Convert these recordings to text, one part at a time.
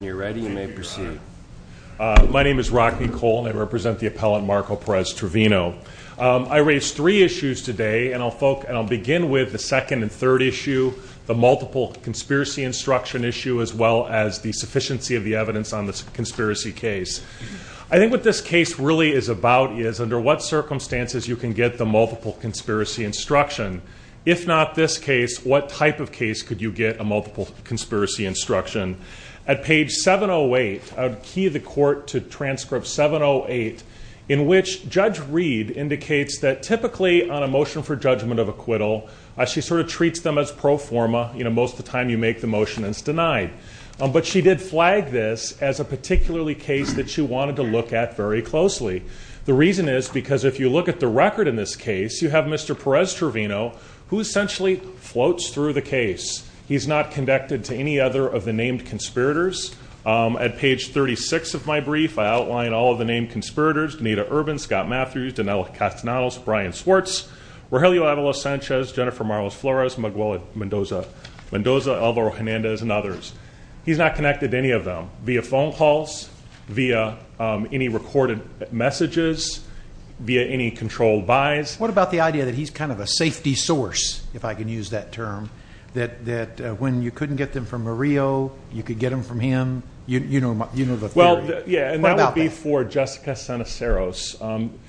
My name is Rocky Cole and I represent the appellant Marcos Perez-Trevino. I raised three issues today and I'll begin with the second and third issue, the multiple conspiracy instruction issue, as well as the sufficiency of the evidence on the conspiracy case. I think what this case really is about is under what circumstances you can get the multiple conspiracy instruction. If not this case, what type of case could you get a multiple conspiracy instruction? At page 708, I would key the court to transcript 708, in which Judge Reed indicates that typically on a motion for judgment of acquittal, she sort of treats them as pro forma, you know, most of the time you make the motion and it's denied. But she did flag this as a particularly case that she wanted to look at very closely. The reason is because if you look at the record in this case, you have Mr. Perez-Trevino who essentially floats through the case. He's not connected to any other of the named conspirators. At page 36 of my brief, I outline all of the named conspirators, Danita Urban, Scott Matthews, Danella Castanedos, Brian Swartz, Rogelio Avalos-Sanchez, Jennifer Marlos-Flores, Miguel Mendoza, Alvaro Hernandez, and others. He's not connected to any of them via phone calls, via any recorded messages, via any controlled buys. What about the idea that he's kind of a safety source, if I can use that term, that when you couldn't get them from Murillo, you could get them from him? You know the theory. Yeah, and that would be for Jessica Seneceros.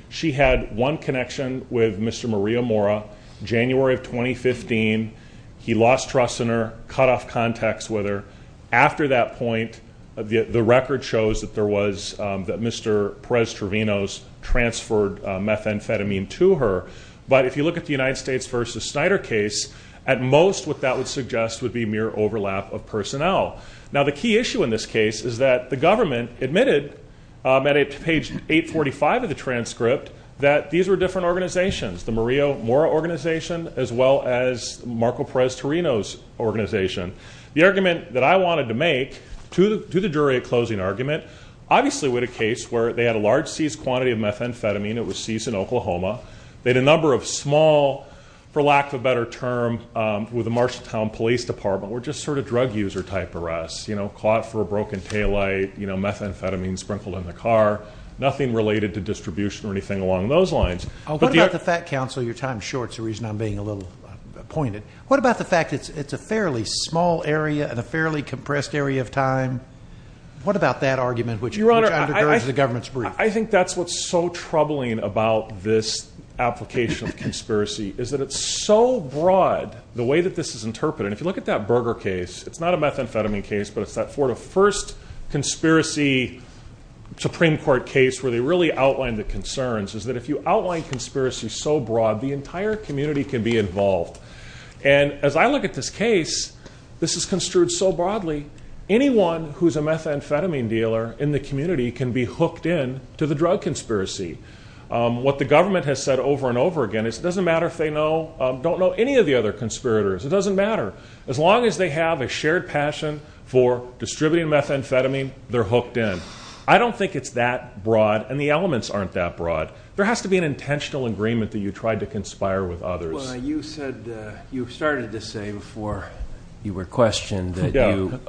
She had one connection with Mr. Murillo Mora, January of 2015. He lost trust in her, cut off contacts with her. After that point, the record shows that Mr. Perez-Trevino's transferred methamphetamine to her. But if you look at the United States versus Snyder case, at most what that would suggest would be mere overlap of personnel. Now the key issue in this case is that the government admitted at page 845 of the transcript that these were different organizations, the Murillo Mora organization as well as Marco Perez-Trevino's organization. The argument that I wanted to make to the jury at closing argument, obviously with a case where they had a large seized quantity of methamphetamine. It was seized in Oklahoma. They had a number of small, for lack of a better term, with the Marshalltown Police Department, were just sort of drug user type arrests. Caught for a broken taillight, methamphetamine sprinkled in the car, nothing related to distribution or anything along those lines. What about the fact, counsel, your time is short. It's the reason I'm being a little pointed. What about the fact that it's a fairly small area and a fairly compressed area of time? What about that argument which undergirds the government's brief? I think that's what's so troubling about this application of conspiracy, is that it's so broad, the way that this is interpreted. If you look at that Berger case, it's not a methamphetamine case, but it's that first conspiracy Supreme Court case where they really outlined the concerns, is that if you outline conspiracy so broad, the entire community can be involved. And as I look at this case, this is construed so broadly, anyone who's a methamphetamine dealer in the community can be hooked in to the drug conspiracy. What the government has said over and over again is it doesn't matter if they know, don't know any of the other conspirators, it doesn't matter. As long as they have a shared passion for distributing methamphetamine, they're hooked in. I don't think it's that broad, and the elements aren't that broad. There has to be an intentional agreement that you tried to conspire with others. Well, you said, you started to say before you were questioned that you,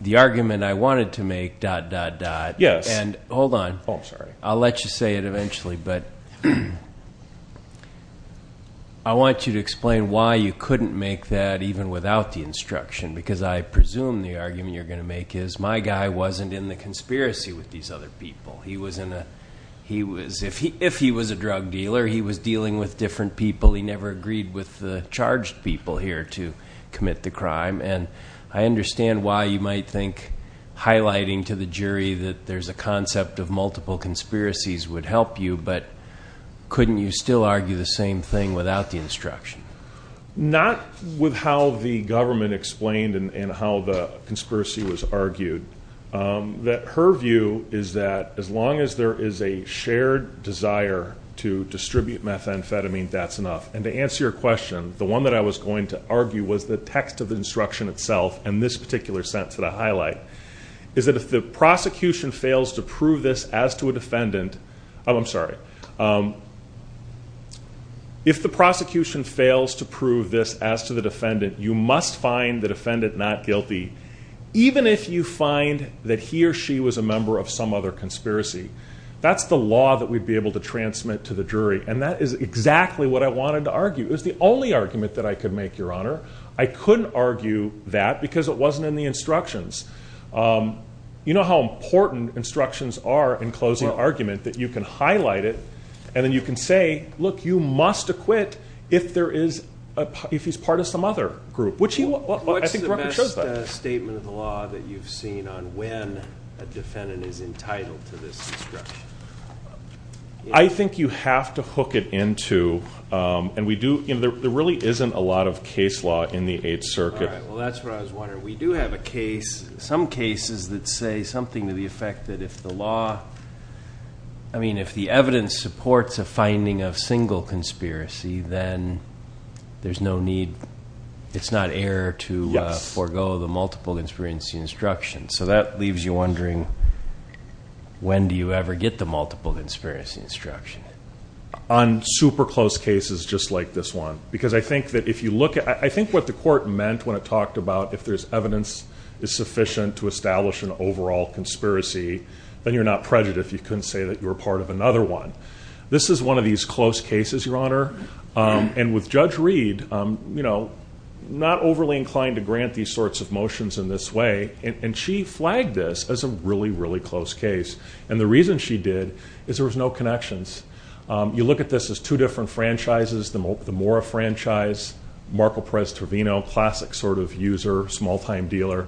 the argument I wanted to make, dot, dot, dot. And hold on. Oh, I'm sorry. I'll let you say it eventually, but I want you to explain why you couldn't make that even without the instruction, because I presume the argument you're going to make is my guy wasn't in the conspiracy with these other people. He was in a, he was, if he was a drug dealer, he was dealing with different people. He never agreed with the charged people here to commit the crime. And I understand why you might think highlighting to the jury that there's a concept of multiple conspiracies would help you, but couldn't you still argue the same thing without the instruction? Not with how the government explained and how the conspiracy was argued. That her view is that as long as there is a shared desire to distribute methamphetamine, that's enough. And to answer your question, the one that I was going to argue was the text of the instruction itself, and this particular sentence that I highlight, is that if the prosecution fails to prove this as to a defendant, oh, I'm sorry, if the prosecution fails to prove this as to the defendant, you must find the defendant not guilty, even if you find that he or she was a member of some other conspiracy. That's the law that we'd be able to transmit to the jury. And that is exactly what I wanted to argue. It was the only argument that I could make, Your Honor. I couldn't argue that because it wasn't in the instructions. You know how important instructions are in closing an argument, that you can highlight it, and then you can say, look, you must acquit if there is, if he's part of some other group. What's the best statement of the law that you've seen on when a defendant is entitled to this instruction? I think you have to hook it into, and we do, there really isn't a lot of case law in the Eighth Circuit. All right, well, that's what I was wondering. We do have a case, some cases that say something to the effect that if the law, forego the multiple conspiracy instruction. So that leaves you wondering, when do you ever get the multiple conspiracy instruction? On super close cases just like this one. Because I think that if you look at, I think what the court meant when it talked about if there's evidence is sufficient to establish an overall conspiracy, then you're not prejudiced. You couldn't say that you were part of another one. This is one of these close cases, Your Honor. And with Judge Reed, not overly inclined to grant these sorts of motions in this way, and she flagged this as a really, really close case. And the reason she did is there was no connections. You look at this as two different franchises, the Mora franchise, Marco Perez Torvino, classic sort of user, small-time dealer.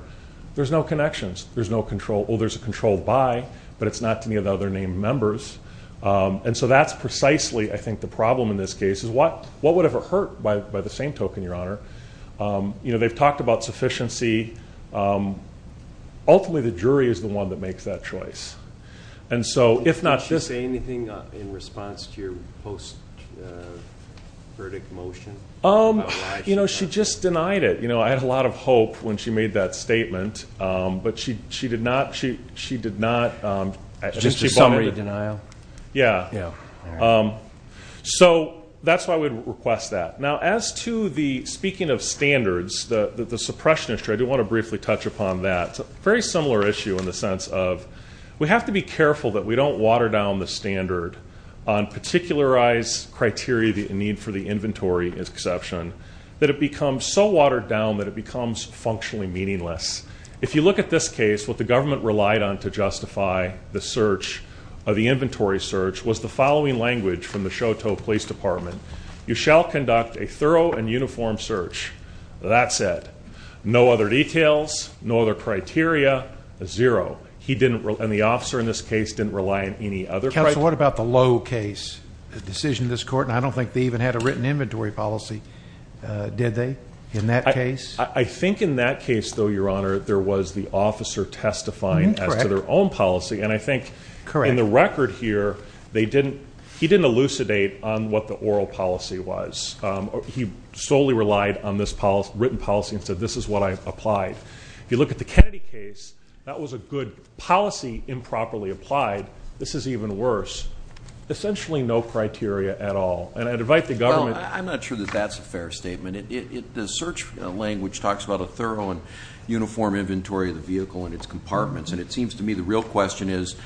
There's no connections. There's no control. Well, there's a control by, but it's not to any of the other named members. And so that's precisely, I think, the problem in this case is what would have hurt by the same token, Your Honor? You know, they've talked about sufficiency. Ultimately, the jury is the one that makes that choice. And so if not this. Did she say anything in response to your post-verdict motion? You know, she just denied it. You know, I had a lot of hope when she made that statement, but she did not. Just a summary denial? Yeah. Yeah. So that's why we'd request that. Now, as to the speaking of standards, the suppression issue, I do want to briefly touch upon that. It's a very similar issue in the sense of we have to be careful that we don't water down the standard on particularized criteria in need for the inventory exception, that it becomes so watered down that it becomes functionally meaningless. If you look at this case, what the government relied on to justify the inventory search was the following language from the Choteau Police Department. You shall conduct a thorough and uniform search. That said, no other details, no other criteria, zero. And the officer in this case didn't rely on any other criteria. Counsel, what about the Lowe case, the decision of this court? And I don't think they even had a written inventory policy, did they, in that case? I think in that case, though, Your Honor, there was the officer testifying as to their own policy. And I think in the record here, he didn't elucidate on what the oral policy was. He solely relied on this written policy and said, this is what I applied. If you look at the Kennedy case, that was a good policy improperly applied. This is even worse. Essentially no criteria at all. And I'd invite the government. Well, I'm not sure that that's a fair statement. The search language talks about a thorough and uniform inventory of the vehicle and its compartments. And it seems to me the real question is,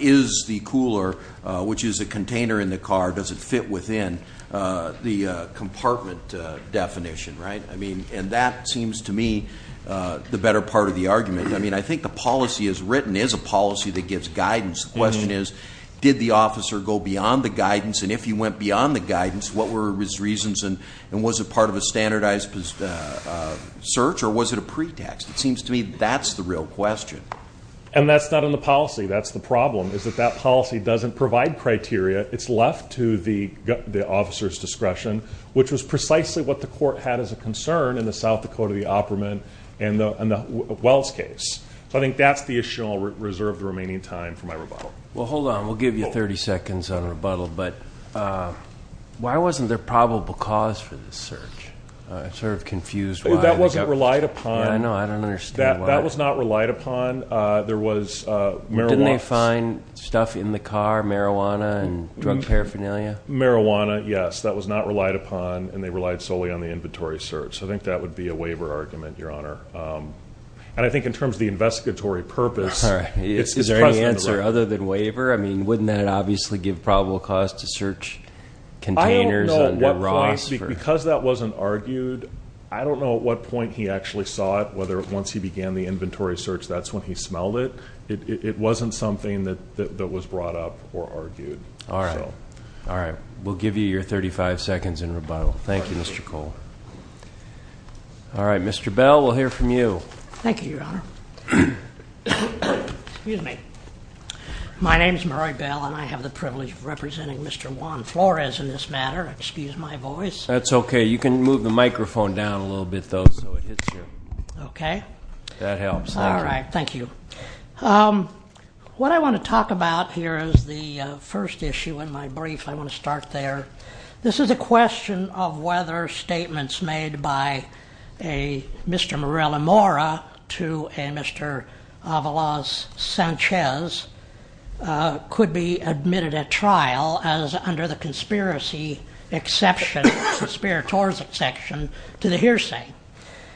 is the cooler, which is a container in the car, does it fit within the compartment definition, right? I mean, and that seems to me the better part of the argument. I mean, I think the policy as written is a policy that gives guidance. And if you went beyond the guidance, what were his reasons? And was it part of a standardized search? Or was it a pretext? It seems to me that's the real question. And that's not in the policy. That's the problem, is that that policy doesn't provide criteria. It's left to the officer's discretion, which was precisely what the court had as a concern in the South Dakota, the Opperman, and the Wells case. So I think that's the issue, and I'll reserve the remaining time for my rebuttal. Well, hold on. We'll give you 30 seconds on rebuttal. But why wasn't there probable cause for this search? I'm sort of confused why. That wasn't relied upon. I know. I don't understand why. That was not relied upon. There was marijuana. Didn't they find stuff in the car, marijuana and drug paraphernalia? Marijuana, yes. That was not relied upon, and they relied solely on the inventory search. I think that would be a waiver argument, Your Honor. And I think in terms of the investigatory purpose, it's present in the law. Other than waiver? I mean, wouldn't that obviously give probable cause to search containers and rocks? Because that wasn't argued, I don't know at what point he actually saw it, whether once he began the inventory search that's when he smelled it. It wasn't something that was brought up or argued. All right. All right. We'll give you your 35 seconds in rebuttal. Thank you, Mr. Cole. All right, Mr. Bell, we'll hear from you. Thank you, Your Honor. Excuse me. My name is Murray Bell, and I have the privilege of representing Mr. Juan Flores in this matter. Excuse my voice. That's okay. You can move the microphone down a little bit, though, so it hits you. Okay. That helps. All right. Thank you. What I want to talk about here is the first issue in my brief. I want to start there. This is a question of whether statements made by a Mr. Morella-Mora to a Mr. Avalos-Sanchez could be admitted at trial as under the conspiracy exception, conspiratorial exception to the hearsay.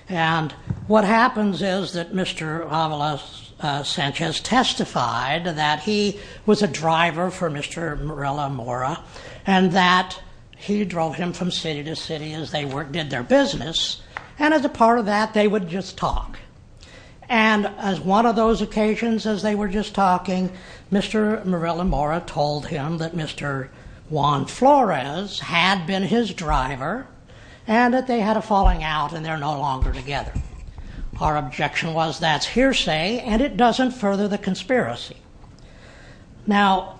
And what happens is that Mr. Avalos-Sanchez testified that he was a driver for Mr. Morella-Mora and that he drove him from city to city as they did their business, and as a part of that they would just talk. And as one of those occasions as they were just talking, Mr. Morella-Mora told him that Mr. Juan Flores had been his driver and that they had a falling out and they're no longer together. Our objection was that's hearsay and it doesn't further the conspiracy. Now,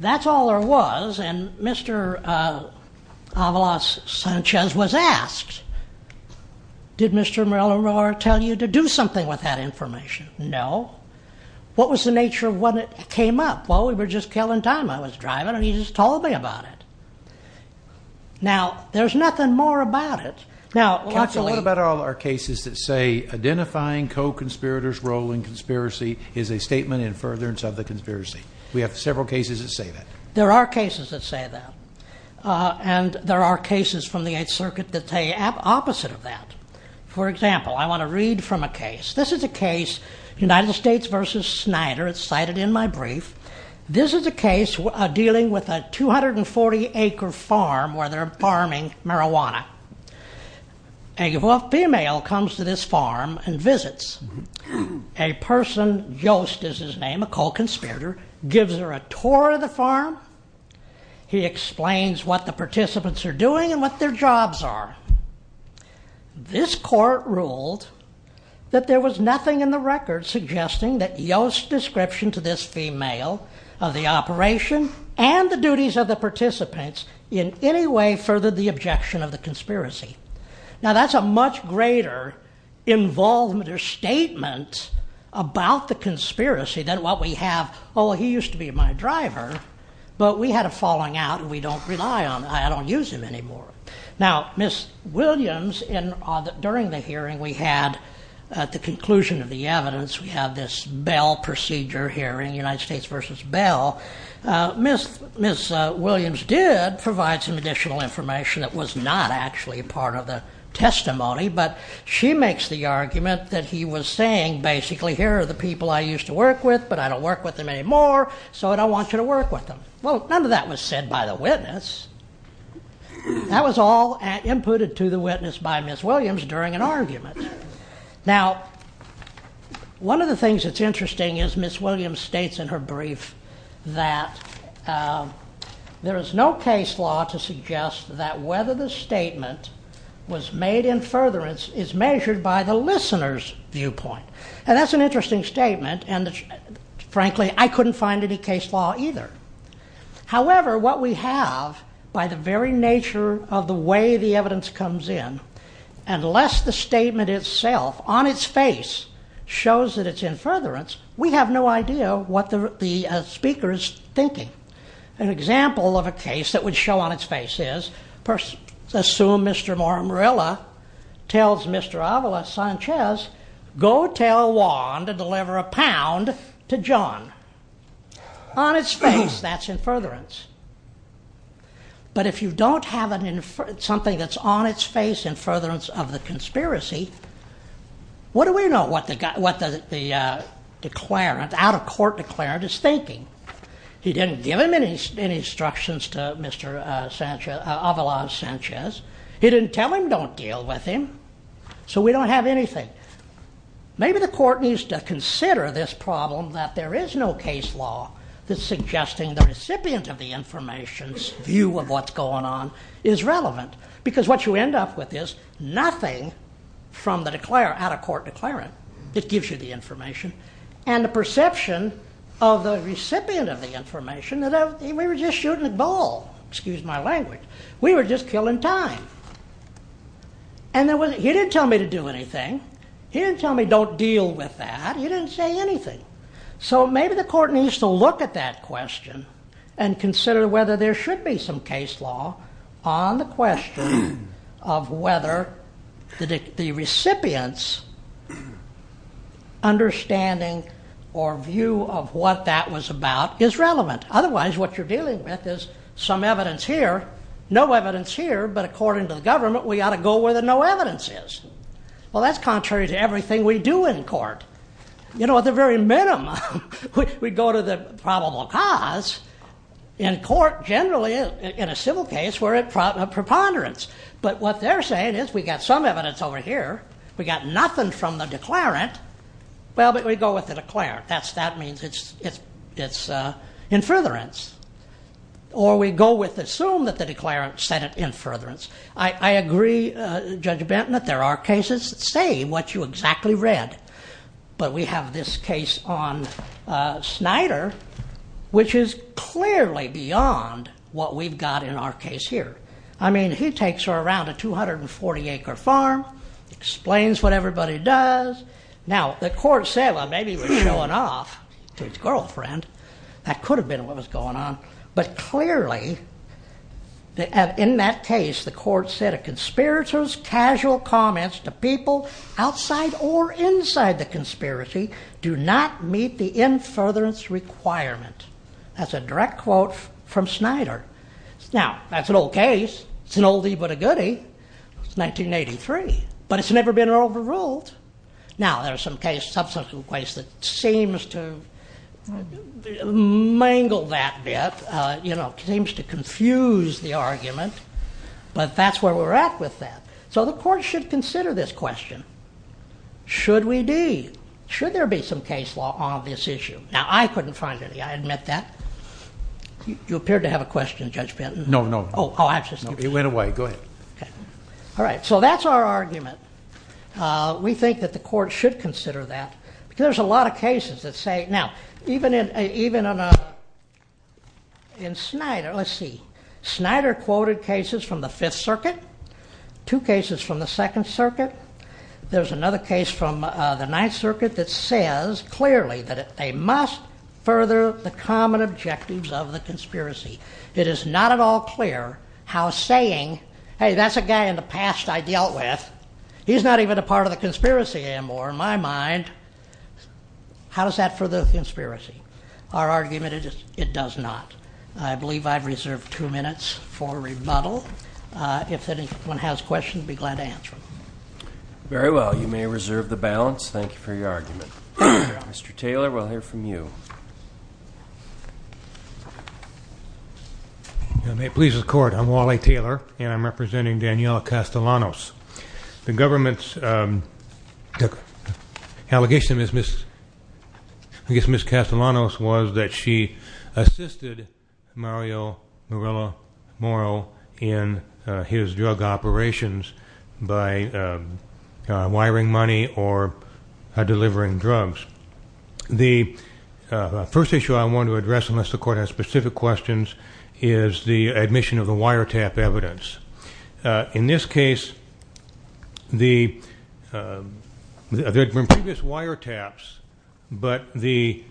that's all there was, and Mr. Avalos-Sanchez was asked, did Mr. Morella-Mora tell you to do something with that information? No. What was the nature of when it came up? Well, we were just killing time. I was driving and he just told me about it. Now, there's nothing more about it. Counsel, what about all our cases that say identifying co-conspirators' role in conspiracy is a statement in furtherance of the conspiracy? We have several cases that say that. There are cases that say that. And there are cases from the Eighth Circuit that say the opposite of that. For example, I want to read from a case. This is a case, United States v. Snyder. It's cited in my brief. This is a case dealing with a 240-acre farm where they're farming marijuana. A female comes to this farm and visits. A person, Yost is his name, a co-conspirator, gives her a tour of the farm. He explains what the participants are doing and what their jobs are. This court ruled that there was nothing in the record suggesting that Yost's description to this female of the operation and the duties of the participants in any way furthered the objection of the conspiracy. Now, that's a much greater involvement or statement about the conspiracy than what we have, oh, he used to be my driver, but we had a falling out and we don't rely on him, I don't use him anymore. Now, Ms. Williams, during the hearing we had at the conclusion of the evidence, we have this Bell Procedure hearing, United States v. Bell. Ms. Williams did provide some additional information that was not actually part of the testimony, but she makes the argument that he was saying, basically, here are the people I used to work with, but I don't work with them anymore, so I don't want you to work with them. Well, none of that was said by the witness. That was all inputted to the witness by Ms. Williams during an argument. Now, one of the things that's interesting is Ms. Williams states in her brief that there is no case law to suggest that whether the statement was made in furtherance is measured by the listener's viewpoint, and that's an interesting statement, and frankly, I couldn't find any case law either. However, what we have, by the very nature of the way the evidence comes in, unless the statement itself, on its face, shows that it's in furtherance, we have no idea what the speaker is thinking. An example of a case that would show on its face is, assume Mr. Morimurilla tells Mr. Ávila Sanchez, go tell Juan to deliver a pound to John. On its face, that's in furtherance. But if you don't have something that's on its face in furtherance of the conspiracy, what do we know what the declarant, out-of-court declarant, is thinking? He didn't give him any instructions to Mr. Ávila Sanchez. He didn't tell him, don't deal with him. So we don't have anything. Maybe the court needs to consider this problem that there is no case law that's suggesting the recipient of the information's view of what's going on is relevant, because what you end up with is nothing from the out-of-court declarant that gives you the information, and the perception of the recipient of the information, we were just shooting a ball, excuse my language. We were just killing time. And he didn't tell me to do anything. He didn't tell me, don't deal with that. He didn't say anything. So maybe the court needs to look at that question and consider whether there should be some case law on the question of whether the recipient's understanding or view of what that was about is relevant. Otherwise, what you're dealing with is some evidence here, no evidence here, but according to the government, we ought to go where the no evidence is. Well, that's contrary to everything we do in court. You know, at the very minimum, we go to the probable cause. In court, generally, in a civil case, we're at preponderance. But what they're saying is we've got some evidence over here, we've got nothing from the declarant, well, but we go with the declarant. That means it's in furtherance. Or we go with, assume that the declarant said it in furtherance. I agree, Judge Benton, that there are cases that say what you exactly read. But we have this case on Snyder, which is clearly beyond what we've got in our case here. I mean, he takes her around a 240-acre farm, explains what everybody does. Now, the court said, well, maybe he was showing off to his girlfriend. That could have been what was going on. But clearly, in that case, the court said, a conspirator's casual comments to people outside or inside the conspiracy do not meet the in furtherance requirement. That's a direct quote from Snyder. Now, that's an old case. It's an oldie but a goodie. It's 1983. But it's never been overruled. Now, there are some cases, subsequent cases, that seems to mangle that bit, seems to confuse the argument. But that's where we're at with that. So the court should consider this question. Should we be? Should there be some case law on this issue? Now, I couldn't find any. I admit that. You appeared to have a question, Judge Benton. No, no. It went away. Go ahead. All right, so that's our argument. We think that the court should consider that because there's a lot of cases that say... Now, even in Snyder... Let's see. Snyder quoted cases from the Fifth Circuit, two cases from the Second Circuit. There's another case from the Ninth Circuit that says clearly that they must further the common objectives of the conspiracy. It is not at all clear how saying, hey, that's a guy in the past I dealt with. He's not even a part of the conspiracy anymore, in my mind. How does that further the conspiracy? Our argument is it does not. I believe I've reserved two minutes for rebuttal. If anyone has questions, I'd be glad to answer them. Very well. You may reserve the balance. Thank you for your argument. Mr. Taylor, we'll hear from you. May it please the Court, I'm Wally Taylor, and I'm representing Daniela Castellanos. The government's allegation against Ms. Castellanos was that she assisted Mario Morello in his drug operations by wiring money or delivering drugs. The first issue I want to address, unless the Court has specific questions, is the admission of the wiretap evidence. In this case, there were previous wiretaps, but the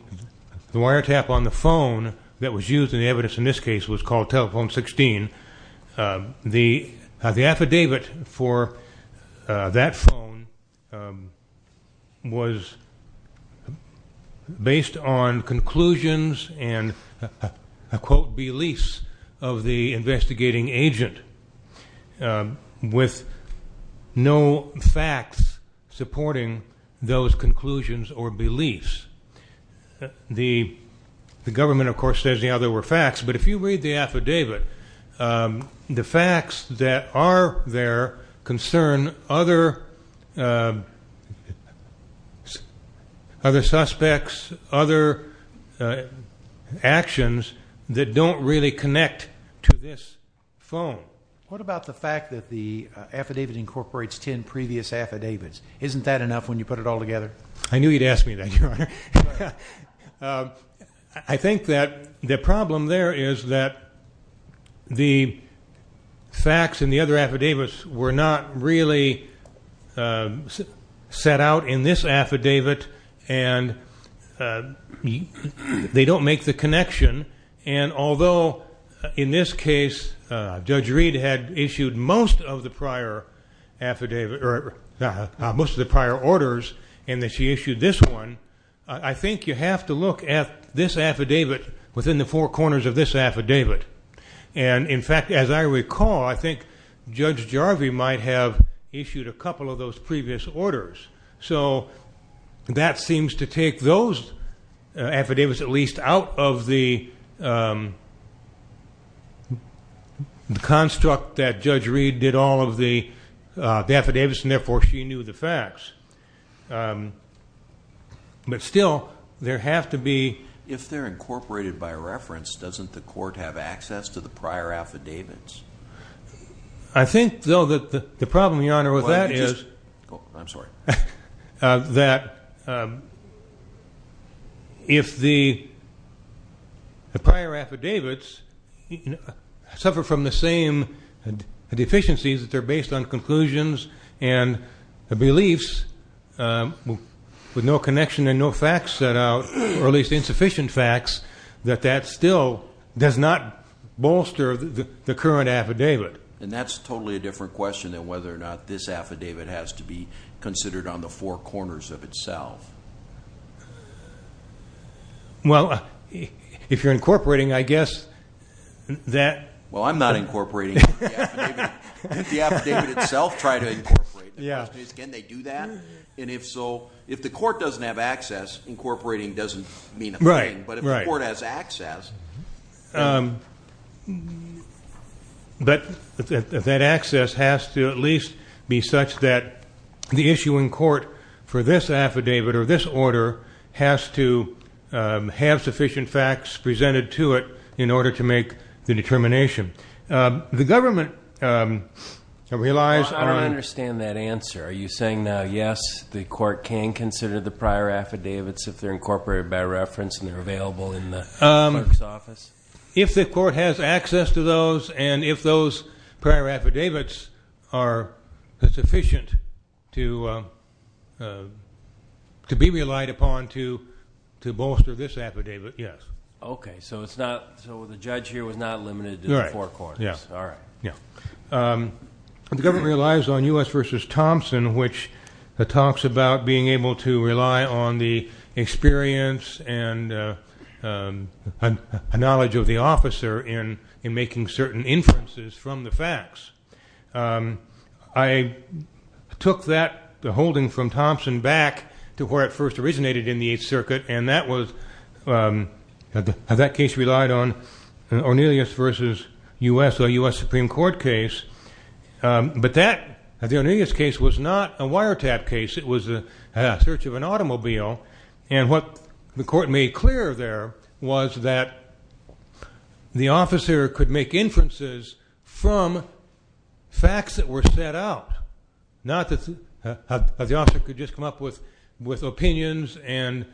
wiretap on the phone that was used in the evidence in this case was called Telephone 16. The affidavit for that phone was based on conclusions and, I quote, beliefs of the investigating agent, with no facts supporting those conclusions or beliefs. The government, of course, says, you know, there were facts, but if you read the affidavit, the facts that are there concern other suspects, other actions that don't really connect to this phone. What about the fact that the affidavit incorporates ten previous affidavits? Isn't that enough when you put it all together? I knew you'd ask me that, Your Honor. I think that the problem there is that the facts in the other affidavits were not really set out in this affidavit and they don't make the connection, and although in this case Judge Reed had issued most of the prior orders and that she issued this one, I think you have to look at this affidavit within the four corners of this affidavit. And, in fact, as I recall, I think Judge Jarvie might have issued a couple of those previous orders. So that seems to take those affidavits at least out of the construct that Judge Reed did all of the affidavits and therefore she knew the facts. But still, there have to be... If they're incorporated by reference, doesn't the court have access to the prior affidavits? I think, though, that the problem, Your Honor, with that is that if the prior affidavits suffer from the same deficiencies that they're based on conclusions and beliefs with no connection and no facts set out, or at least insufficient facts, that that still does not bolster the current affidavit. And that's totally a different question than whether or not this affidavit has to be considered on the four corners of itself. Well, if you're incorporating, I guess that... Well, I'm not incorporating the affidavit. The affidavit itself, try to incorporate it. Can they do that? And if so, if the court doesn't have access, incorporating doesn't mean a thing. But if the court has access... But that access has to at least be such that the issue in court for this affidavit or this order has to have sufficient facts presented to it in order to make the determination. The government relies on... I don't understand that answer. Are you saying that, yes, the court can consider the prior affidavits if they're incorporated by reference and they're available in the clerk's office? If the court has access to those and if those prior affidavits are sufficient to be relied upon to bolster this affidavit, yes. Okay, so the judge here was not limited to the four corners. All right. The government relies on U.S. v. Thompson, which talks about being able to rely on the experience and knowledge of the officer in making certain inferences from the facts. I took that, the holding from Thompson, back to where it first originated in the Eighth Circuit, and that case relied on Ornelas v. U.S., a U.S. Supreme Court case. But the Ornelas case was not a wiretap case. It was a search of an automobile, and what the court made clear there was that the officer could make inferences from facts that were set out, not that the officer could just come up with opinions and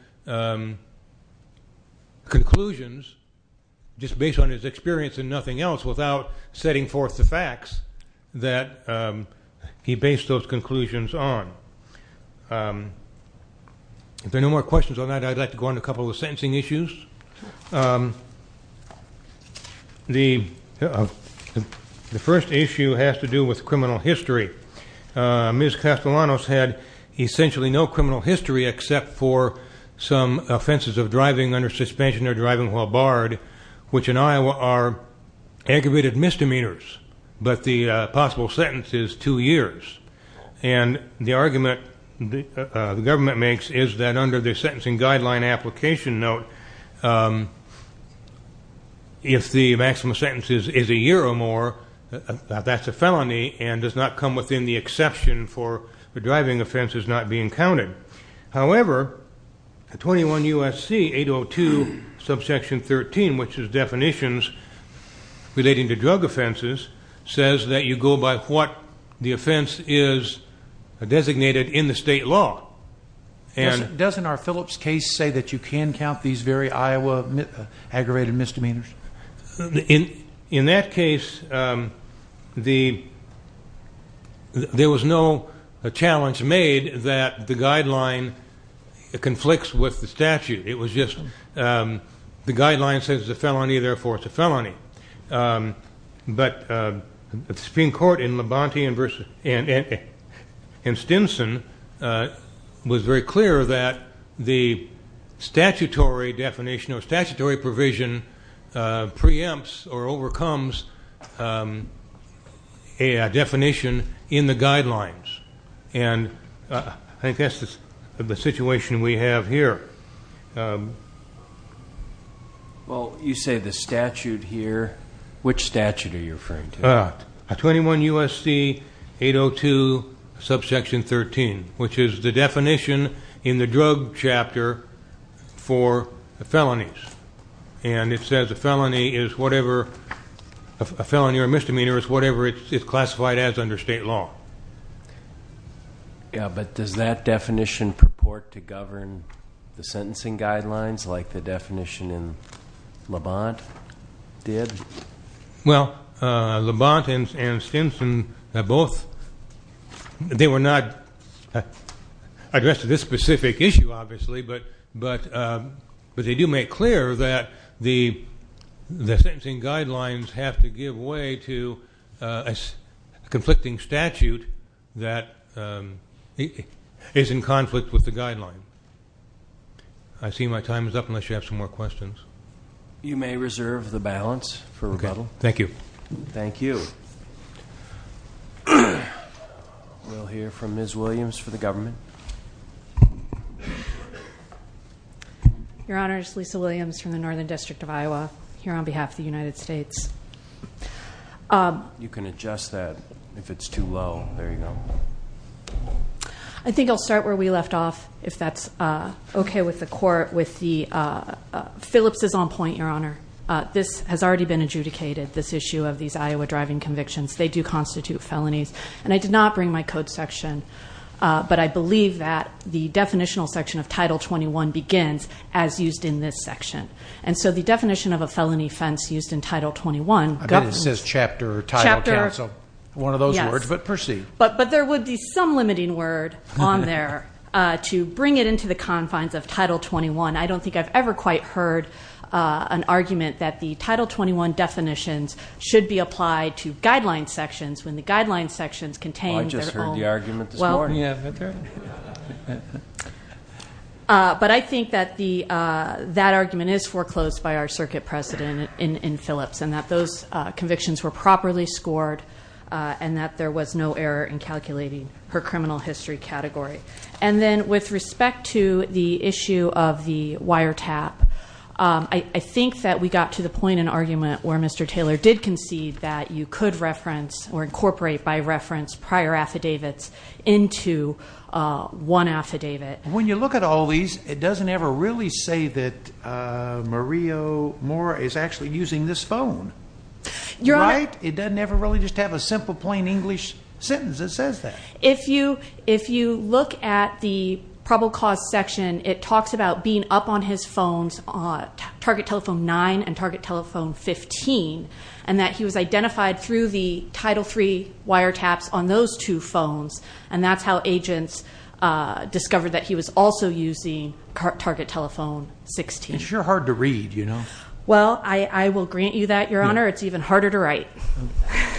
conclusions just based on his experience and nothing else without setting forth the facts that he based those conclusions on. If there are no more questions on that, I'd like to go on to a couple of the sentencing issues. The first issue has to do with criminal history. Ms. Castellanos had essentially no criminal history except for some offenses of driving under suspension or driving while barred, which in Iowa are aggravated misdemeanors, but the possible sentence is two years. And the argument the government makes is that under the sentencing guideline and application note, if the maximum sentence is a year or more, that's a felony and does not come within the exception for the driving offenses not being counted. However, 21 U.S.C. 802 subsection 13, which is definitions relating to drug offenses, says that you go by what the offense is designated in the state law. Doesn't our Phillips case say that you can count these very Iowa aggravated misdemeanors? In that case, there was no challenge made that the guideline conflicts with the statute. It was just the guideline says it's a felony, therefore it's a felony. But the Supreme Court in Labonte and Stinson was very clear that the statutory definition or statutory provision preempts or overcomes a definition in the guidelines. And I think that's the situation we have here. Well, you say the statute here. Which statute are you referring to? 21 U.S.C. 802 subsection 13, which is the definition in the drug chapter for the felonies. And it says a felony or misdemeanor is whatever it's classified as under state law. Yeah, but does that definition purport to govern the sentencing guidelines like the definition in Labonte did? Well, Labonte and Stinson both, they were not addressed to this specific issue, obviously, but they do make clear that the sentencing guidelines have to give way to a conflicting statute that is in conflict with the guideline. I see my time is up unless you have some more questions. You may reserve the balance for rebuttal. Thank you. Thank you. We'll hear from Ms. Williams for the government. Your Honor, it's Lisa Williams from the Northern District of Iowa here on behalf of the United States. You can adjust that if it's too low. There you go. I think I'll start where we left off, if that's okay with the court. Phillips is on point, Your Honor. This has already been adjudicated, this issue of these Iowa driving convictions. They do constitute felonies. And I did not bring my code section, but I believe that the definitional section of Title 21 begins as used in this section. And so the definition of a felony offense used in Title 21 governs. I bet it says chapter or title counsel, one of those words, but proceed. But there would be some limiting word on there to bring it into the confines of Title 21. I don't think I've ever quite heard an argument that the Title 21 definitions should be applied to guideline sections when the guideline sections contain their own. I just heard the argument this morning. But I think that that argument is foreclosed by our circuit president in Phillips and that those convictions were properly scored and that there was no error in calculating her criminal history category. And then with respect to the issue of the wiretap, I think that we got to the point in argument where Mr. Taylor did concede that you could reference or incorporate by reference prior affidavits into one affidavit. When you look at all these, it doesn't ever really say that Maria Moore is actually using this phone. Right? It doesn't ever really just have a simple plain English sentence that says that. If you look at the probable cause section, it talks about being up on his phones, Target Telephone 9 and Target Telephone 15, and that he was identified through the Title III wiretaps on those two phones, and that's how agents discovered that he was also using Target Telephone 16. It's sure hard to read, you know. Well, I will grant you that, Your Honor. It's even harder to write.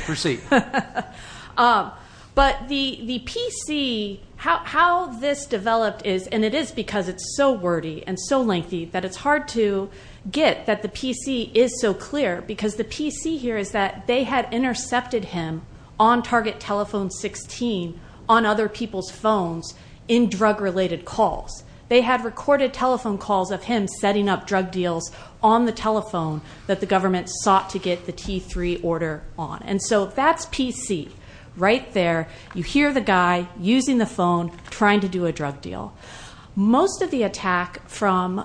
Proceed. But the PC, how this developed is, and it is because it's so wordy and so lengthy that it's hard to get that the PC is so clear, because the PC here is that they had intercepted him on Target Telephone 16 on other people's phones in drug-related calls. They had recorded telephone calls of him setting up drug deals on the telephone that the government sought to get the T3 order on. And so that's PC right there. You hear the guy using the phone trying to do a drug deal. Most of the attack from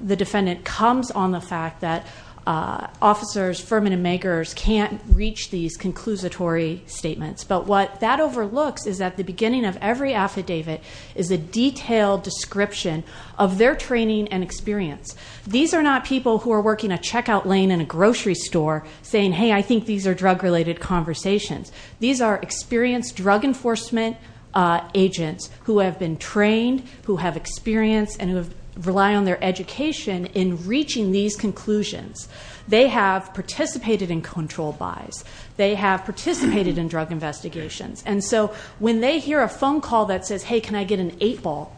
the defendant comes on the fact that officers, firm and makers can't reach these conclusatory statements. But what that overlooks is that the beginning of every affidavit is a detailed description of their training and experience. These are not people who are working a checkout lane in a grocery store saying, hey, I think these are drug-related conversations. These are experienced drug enforcement agents who have been trained, who have experience, and who rely on their education in reaching these conclusions. They have participated in control buys. They have participated in drug investigations. And so when they hear a phone call that says, hey, can I get an 8-ball,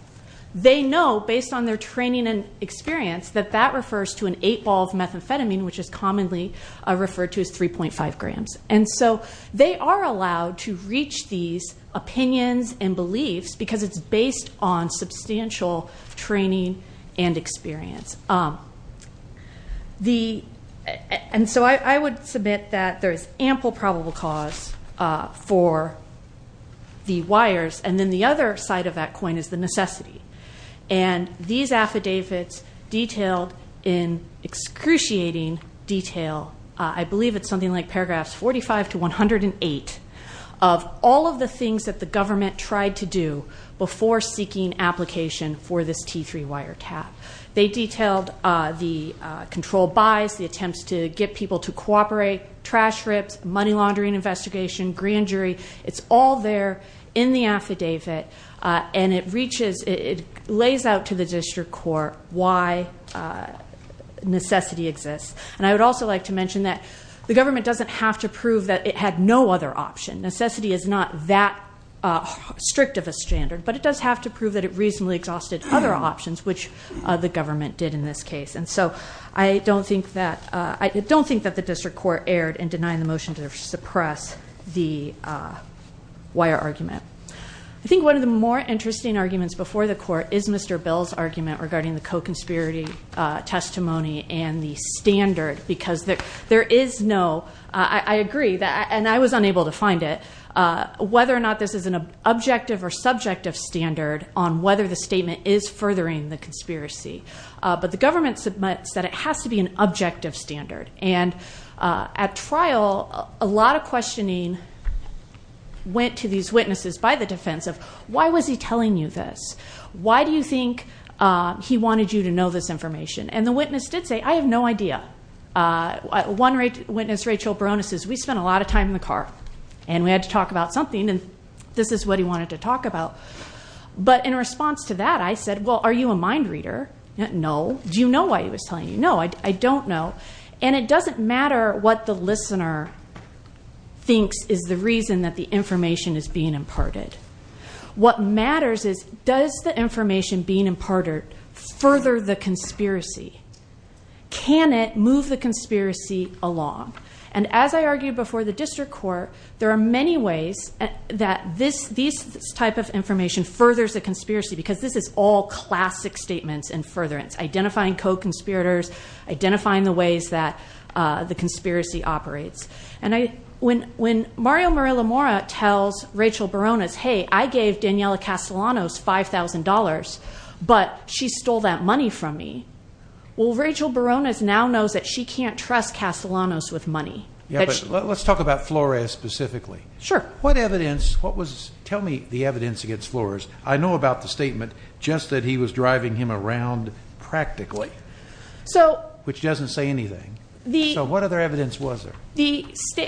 they know based on their training and experience that that refers to an 8-ball of methamphetamine, which is commonly referred to as 3.5 grams. And so they are allowed to reach these opinions and beliefs because it's based on substantial training and experience. And so I would submit that there is ample probable cause for the wires. And then the other side of that coin is the necessity. And these affidavits detailed in excruciating detail, I believe it's something like paragraphs 45 to 108, of all of the things that the government tried to do before seeking application for this T3 wire cap. They detailed the control buys, the attempts to get people to cooperate, trash rips, money laundering investigation, grand jury. It's all there in the affidavit, and it lays out to the district court why necessity exists. And I would also like to mention that the government doesn't have to prove that it had no other option. Necessity is not that strict of a standard, but it does have to prove that it reasonably exhausted other options, which the government did in this case. And so I don't think that the district court erred in denying the motion to suppress the wire argument. I think one of the more interesting arguments before the court is Mr. Bill's argument regarding the co-conspiracy testimony and the standard. Because there is no, I agree, and I was unable to find it, whether or not this is an objective or subjective standard on whether the statement is furthering the conspiracy. But the government submits that it has to be an objective standard. And at trial, a lot of questioning went to these witnesses by the defense of, why was he telling you this? Why do you think he wanted you to know this information? And the witness did say, I have no idea. One witness, Rachel Bronis, says, we spent a lot of time in the car, and we had to talk about something, and this is what he wanted to talk about. But in response to that, I said, well, are you a mind reader? No. Do you know why he was telling you? No, I don't know. And it doesn't matter what the listener thinks is the reason that the information is being imparted. What matters is, does the information being imparted further the conspiracy? Can it move the conspiracy along? And as I argued before the district court, there are many ways that this type of information furthers the conspiracy, because this is all classic statements and furtherance, identifying co-conspirators, identifying the ways that the conspiracy operates. And when Mario Murillamora tells Rachel Bronis, hey, I gave Daniela Castellanos $5,000, but she stole that money from me, well, Rachel Bronis now knows that she can't trust Castellanos with money. Yeah, but let's talk about Flores specifically. Sure. What evidence, what was, tell me the evidence against Flores. I know about the statement, just that he was driving him around practically, which doesn't say anything. So what other evidence was there?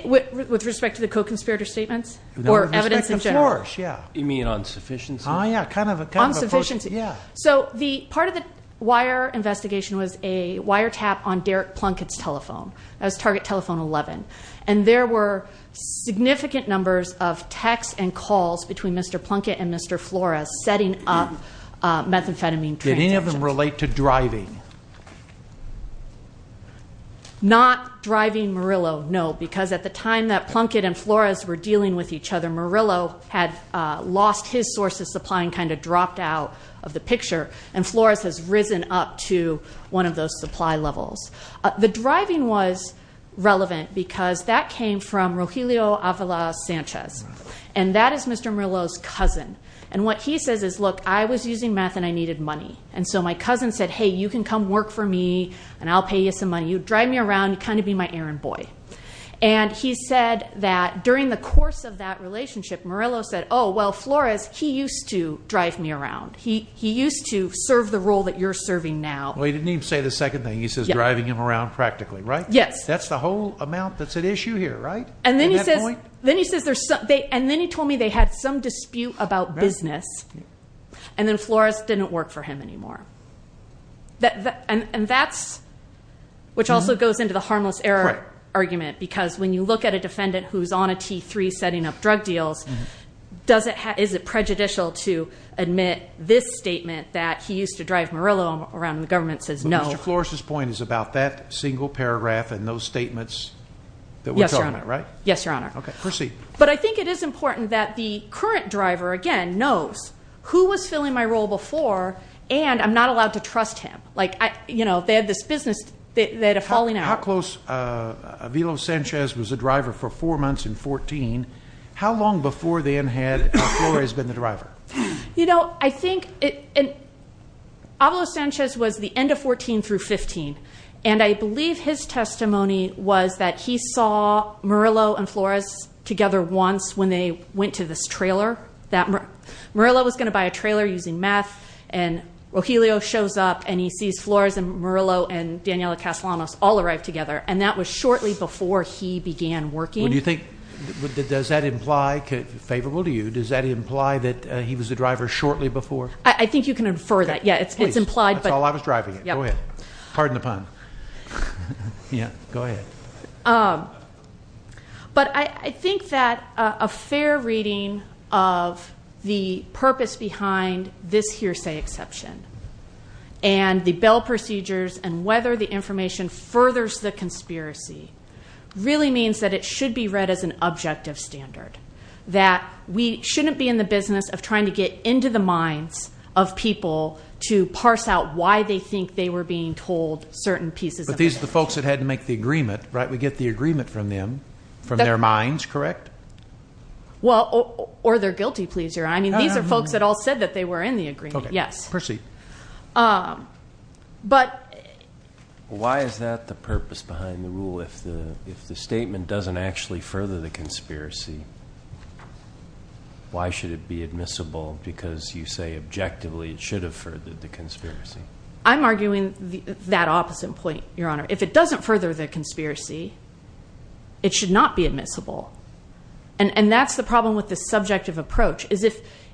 With respect to the co-conspirator statements or evidence in general? With respect to Flores, yeah. You mean insufficiency? Oh, yeah, kind of a portion, yeah. So part of the wire investigation was a wiretap on Derek Plunkett's telephone. That was Target Telephone 11. And there were significant numbers of texts and calls between Mr. Plunkett and Mr. Flores setting up methamphetamine transactions. Did any of them relate to driving? Not driving Murillo, no, because at the time that Plunkett and Flores were dealing with each other, Murillo had lost his source of supply and kind of dropped out of the picture. And Flores has risen up to one of those supply levels. The driving was relevant because that came from Rogelio Avila Sanchez. And that is Mr. Murillo's cousin. And what he says is, look, I was using meth and I needed money. And so my cousin said, hey, you can come work for me and I'll pay you some money. You drive me around, you kind of be my errand boy. And he said that during the course of that relationship, Murillo said, oh, well, Flores, he used to drive me around. He used to serve the role that you're serving now. Well, he didn't even say the second thing. He says driving him around practically, right? Yes. That's the whole amount that's at issue here, right, at that point? And then he says there's some – and then he told me they had some dispute about business. And then Flores didn't work for him anymore. And that's – which also goes into the harmless error argument. Because when you look at a defendant who's on a T3 setting up drug deals, is it prejudicial to admit this statement that he used to drive Murillo around and the government says no? Well, Mr. Flores' point is about that single paragraph and those statements that we're talking about, right? Yes, Your Honor. Okay, proceed. But I think it is important that the current driver, again, knows who was filling my role before and I'm not allowed to trust him. Like, you know, they had this business. They had a falling out. How close – Avilo Sanchez was the driver for four months and 14. How long before then had Flores been the driver? You know, I think – and Avilo Sanchez was the end of 14 through 15. And I believe his testimony was that he saw Murillo and Flores together once when they went to this trailer. Murillo was going to buy a trailer using meth, and Rogelio shows up, and he sees Flores and Murillo and Daniela Castellanos all arrive together, and that was shortly before he began working. Well, do you think – does that imply – favorable to you, does that imply that he was the driver shortly before? I think you can infer that. Yeah, it's implied. That's all I was driving it. Go ahead. Pardon the pun. Yeah, go ahead. But I think that a fair reading of the purpose behind this hearsay exception and the bail procedures and whether the information furthers the conspiracy really means that it should be read as an objective standard, that we shouldn't be in the business of trying to get into the minds of people to parse out why they think they were being told certain pieces of information. These are the folks that had to make the agreement, right? We get the agreement from them, from their minds, correct? Well, or their guilty pleasure. I mean, these are folks that all said that they were in the agreement, yes. Okay, proceed. But – Why is that the purpose behind the rule? If the statement doesn't actually further the conspiracy, I'm arguing that opposite point, Your Honor. If it doesn't further the conspiracy, it should not be admissible. And that's the problem with the subjective approach, is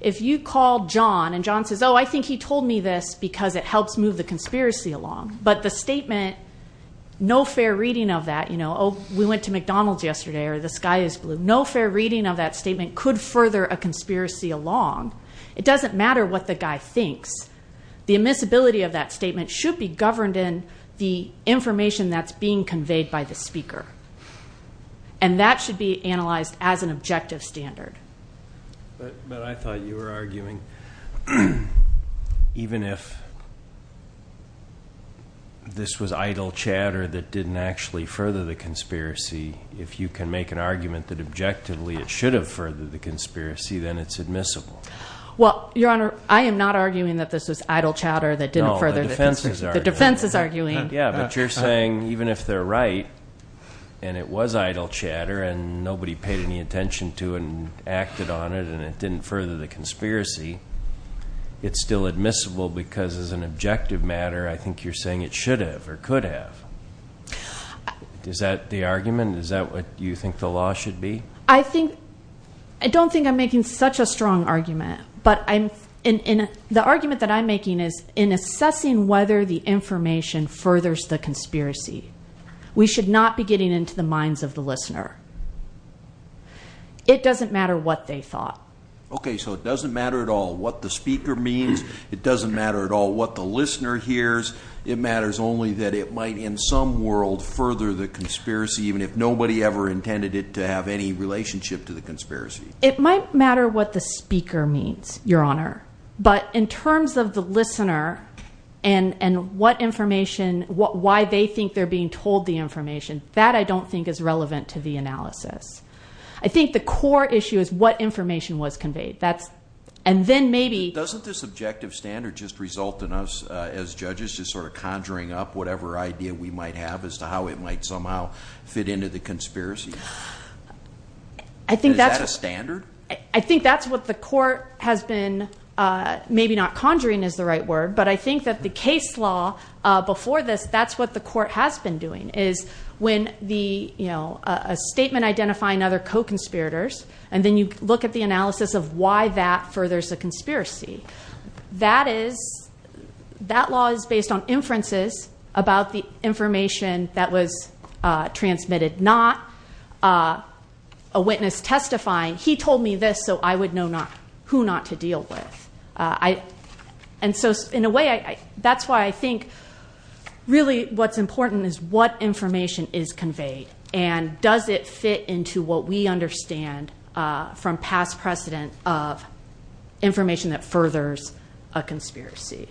if you call John and John says, oh, I think he told me this because it helps move the conspiracy along, but the statement, no fair reading of that, you know, oh, we went to McDonald's yesterday or the sky is blue. No fair reading of that statement could further a conspiracy along. It doesn't matter what the guy thinks. The admissibility of that statement should be governed in the information that's being conveyed by the speaker. And that should be analyzed as an objective standard. But I thought you were arguing even if this was idle chatter that didn't actually further the conspiracy, if you can make an argument that objectively it should have furthered the conspiracy, then it's admissible. Well, Your Honor, I am not arguing that this was idle chatter that didn't further the conspiracy. No, the defense is arguing. The defense is arguing. Yeah, but you're saying even if they're right and it was idle chatter and nobody paid any attention to it and acted on it and it didn't further the conspiracy, it's still admissible because as an objective matter, I think you're saying it should have or could have. Is that the argument? Is that what you think the law should be? I don't think I'm making such a strong argument. But the argument that I'm making is in assessing whether the information furthers the conspiracy. We should not be getting into the minds of the listener. It doesn't matter what they thought. Okay, so it doesn't matter at all what the speaker means. It doesn't matter at all what the listener hears. It matters only that it might in some world further the conspiracy, even if nobody ever intended it to have any relationship to the conspiracy. It might matter what the speaker means, Your Honor. But in terms of the listener and what information, why they think they're being told the information, that I don't think is relevant to the analysis. I think the core issue is what information was conveyed. And then maybe. Doesn't this objective standard just result in us, as judges, just sort of conjuring up whatever idea we might have as to how it might somehow fit into the conspiracy? Is that a standard? I think that's what the court has been, maybe not conjuring is the right word, but I think that the case law before this, that's what the court has been doing, is when a statement identifying other co-conspirators, and then you look at the analysis of why that furthers the conspiracy. That law is based on inferences about the information that was transmitted, not a witness testifying. He told me this so I would know who not to deal with. And so, in a way, that's why I think, really, what's important is what information is conveyed, and does it fit into what we understand from past precedent of information that furthers a conspiracy.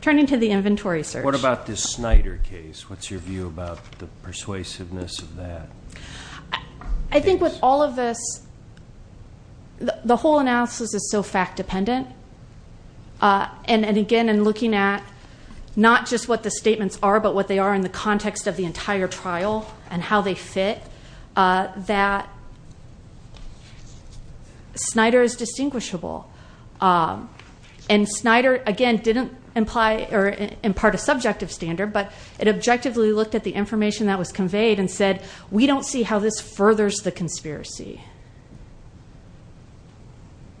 Turning to the inventory search. What about this Snyder case? What's your view about the persuasiveness of that? I think with all of this, the whole analysis is so fact-dependent. And, again, in looking at not just what the statements are, but what they are in the context of the entire trial and how they fit, that Snyder is distinguishable. And Snyder, again, didn't imply or impart a subjective standard, but it objectively looked at the information that was conveyed and said, we don't see how this furthers the conspiracy.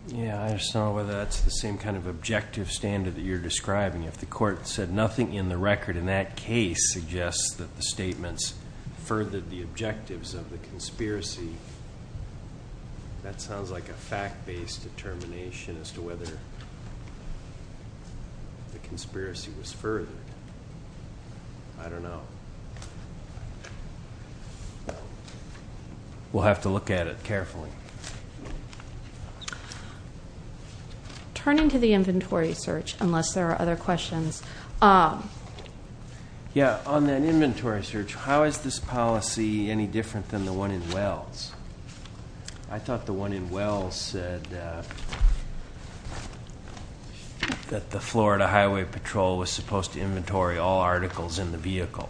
Yeah, I just don't know whether that's the same kind of objective standard that you're describing. If the court said nothing in the record in that case suggests that the statements furthered the objectives of the conspiracy, that sounds like a fact-based determination as to whether the conspiracy was furthered. I don't know. We'll have to look at it carefully. Turning to the inventory search, unless there are other questions. Yeah, on that inventory search, how is this policy any different than the one in Wells? I thought the one in Wells said that the Florida Highway Patrol was supposed to inventory all articles in the vehicle.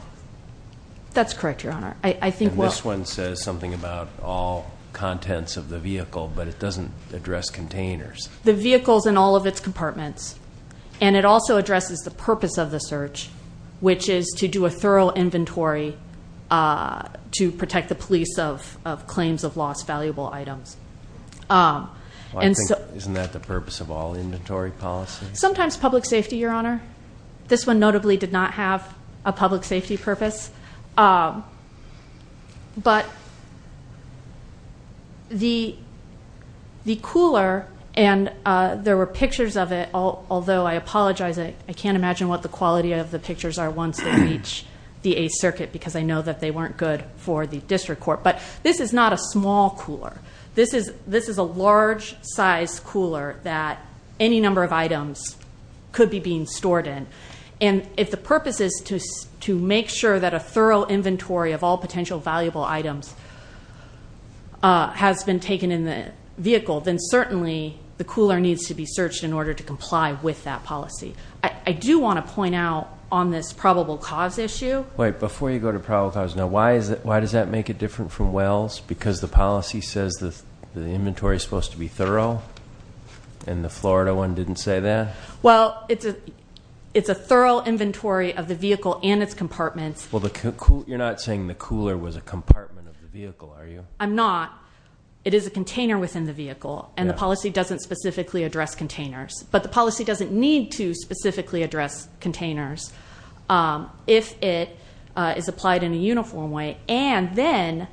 That's correct, Your Honor. And this one says something about all contents of the vehicle, but it doesn't address containers. The vehicle's in all of its compartments, and it also addresses the purpose of the search, which is to do a thorough inventory to protect the police of claims of lost valuable items. Isn't that the purpose of all inventory policies? Sometimes public safety, Your Honor. This one notably did not have a public safety purpose. But the cooler, and there were pictures of it, although I apologize, I can't imagine what the quality of the pictures are once they reach the 8th Circuit, because I know that they weren't good for the district court. But this is not a small cooler. This is a large-size cooler that any number of items could be being stored in. And if the purpose is to make sure that a thorough inventory of all potential valuable items has been taken in the vehicle, then certainly the cooler needs to be searched in order to comply with that policy. I do want to point out on this probable cause issue. Wait, before you go to probable cause, now why does that make it different from Wells? Because the policy says the inventory is supposed to be thorough, and the Florida one didn't say that? Well, it's a thorough inventory of the vehicle and its compartments. Well, you're not saying the cooler was a compartment of the vehicle, are you? I'm not. It is a container within the vehicle, and the policy doesn't specifically address containers. But the policy doesn't need to specifically address containers if it is applied in a uniform way. And then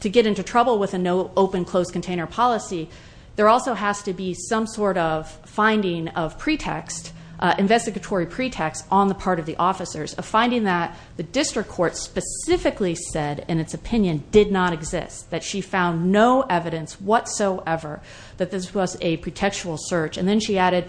to get into trouble with an open-closed container policy, there also has to be some sort of finding of pretext, investigatory pretext on the part of the officers, a finding that the district court specifically said in its opinion did not exist, that she found no evidence whatsoever that this was a pretextual search. And then she added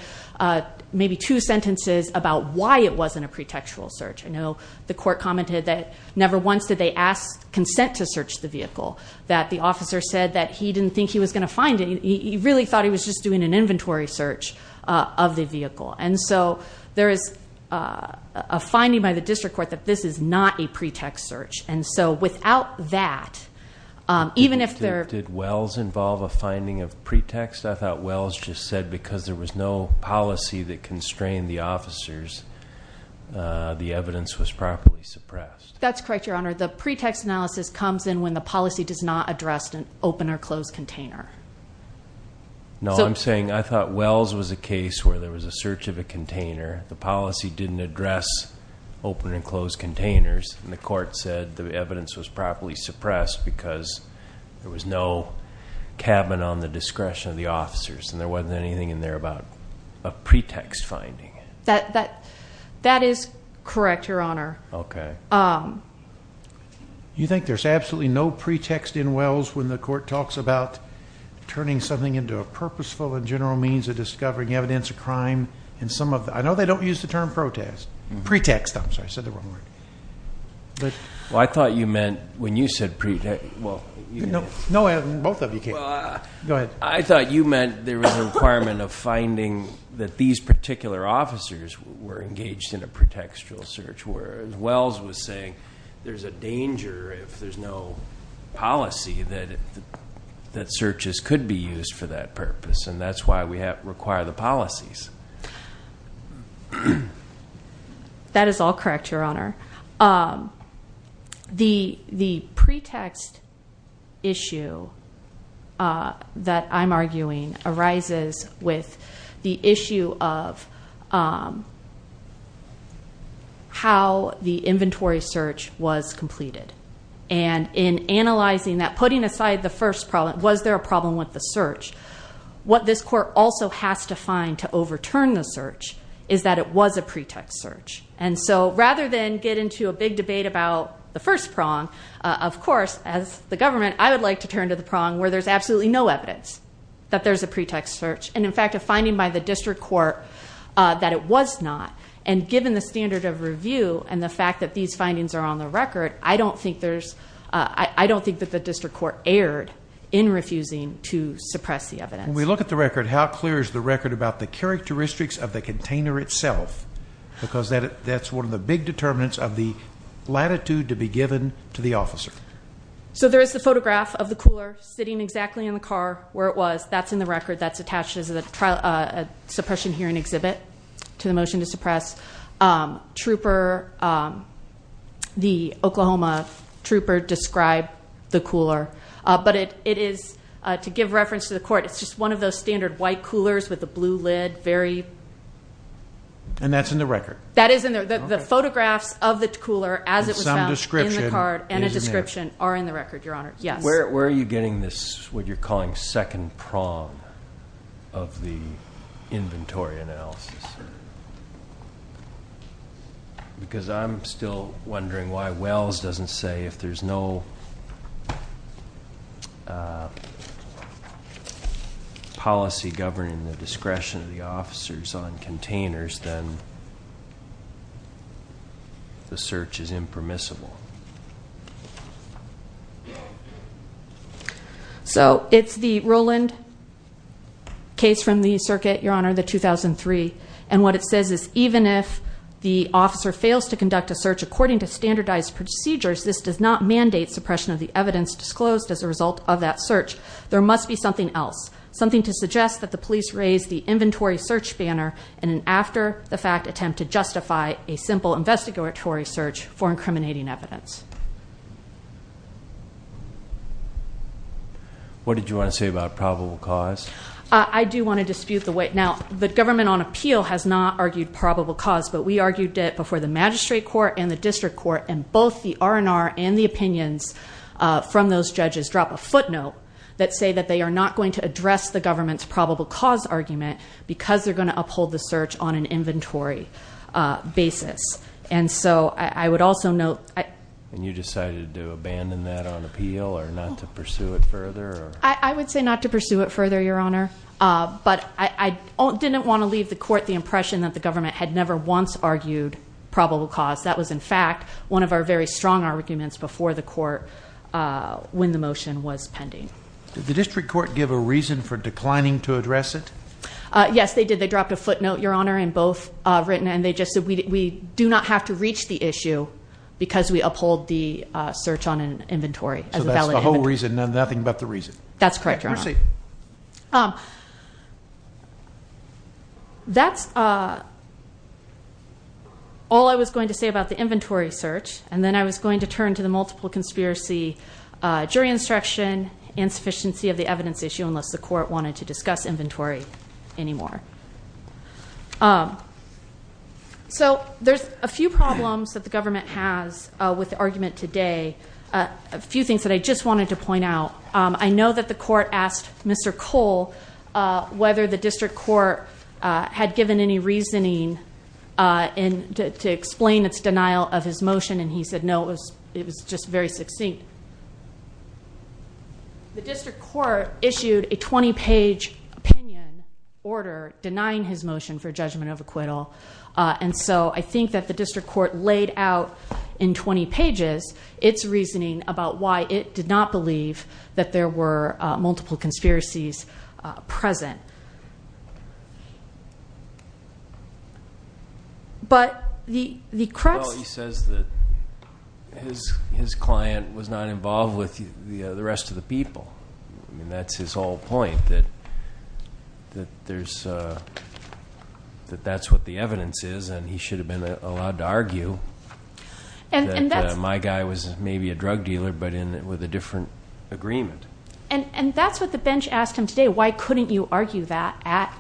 maybe two sentences about why it wasn't a pretextual search. I know the court commented that never once did they ask consent to search the vehicle, that the officer said that he didn't think he was going to find it. He really thought he was just doing an inventory search of the vehicle. And so there is a finding by the district court that this is not a pretext search. And so without that, even if they're – Did Wells involve a finding of pretext? I thought Wells just said because there was no policy that constrained the officers, the evidence was properly suppressed. That's correct, Your Honor. The pretext analysis comes in when the policy does not address an open or closed container. No, I'm saying I thought Wells was a case where there was a search of a container, the policy didn't address open and closed containers, and the court said the evidence was properly suppressed because there was no cabin on the discretion of the officers and there wasn't anything in there about a pretext finding. That is correct, Your Honor. Okay. You think there's absolutely no pretext in Wells when the court talks about turning something into a purposeful and general means of discovering evidence of crime in some of the – I know they don't use the term protest. Pretext, I'm sorry, I said the wrong word. Well, I thought you meant when you said – No, both of you can. Go ahead. I thought you meant there was a requirement of finding that these particular officers were engaged in a pretextual search where, as Wells was saying, there's a danger if there's no policy that searches could be used for that purpose, and that's why we require the policies. That is all correct, Your Honor. The pretext issue that I'm arguing arises with the issue of how the inventory search was completed. And in analyzing that, putting aside the first problem, was there a problem with the search, what this court also has to find to overturn the search is that it was a pretext search. And so rather than get into a big debate about the first prong, of course, as the government, I would like to turn to the prong where there's absolutely no evidence that there's a pretext search and, in fact, a finding by the district court that it was not. And given the standard of review and the fact that these findings are on the record, I don't think there's – I don't think that the district court erred in refusing to suppress the evidence. When we look at the record, how clear is the record about the characteristics of the container itself? Because that's one of the big determinants of the latitude to be given to the officer. So there is the photograph of the cooler sitting exactly in the car where it was. That's in the record. That's attached as a suppression hearing exhibit to the motion to suppress. Trooper, the Oklahoma trooper, described the cooler. But it is, to give reference to the court, it's just one of those standard white coolers with a blue lid, very. And that's in the record? That is in the – the photographs of the cooler as it was found in the card and a description are in the record, Your Honor, yes. Where are you getting this, what you're calling second prong of the inventory analysis? Because I'm still wondering why Wells doesn't say if there's no policy governing the discretion of the officers on containers, then the search is impermissible. So it's the Rowland case from the circuit, Your Honor, the 2003. And what it says is even if the officer fails to conduct a search according to standardized procedures, this does not mandate suppression of the evidence disclosed as a result of that search. There must be something else, something to suggest that the police raise the inventory search banner in an after-the-fact attempt to justify a simple investigatory search for incriminating evidence. What did you want to say about probable cause? I do want to dispute the weight. Now, the government on appeal has not argued probable cause, but we argued it before the magistrate court and the district court and both the R&R and the opinions from those judges drop a footnote that say that they are not going to address the government's probable cause argument because they're going to uphold the search on an inventory basis. And you decided to abandon that on appeal or not to pursue it further? I would say not to pursue it further, Your Honor. But I didn't want to leave the court the impression that the government had never once argued probable cause. That was, in fact, one of our very strong arguments before the court when the motion was pending. Did the district court give a reason for declining to address it? Yes, they did. They dropped a footnote, Your Honor, in both written and they just said we do not have to reach the issue because we uphold the search on an inventory. So that's the whole reason and nothing but the reason? That's correct, Your Honor. That's all I was going to say about the inventory search, and then I was going to turn to the multiple conspiracy jury instruction, and sufficiency of the evidence issue unless the court wanted to discuss inventory anymore. So there's a few problems that the government has with the argument today, a few things that I just wanted to point out. I know that the court asked Mr. Cole whether the district court had given any reasoning to explain its denial of his motion, and he said no, it was just very succinct. The district court issued a 20-page opinion order denying his motion for judgment of acquittal, and so I think that the district court laid out in 20 pages its reasoning about why it did not believe that there were multiple conspiracies present. Well, he says that his client was not involved with the rest of the people, and that's his whole point, that that's what the evidence is, and he should have been allowed to argue that my guy was maybe a drug dealer but with a different agreement. And that's what the bench asked him today, why couldn't you argue that at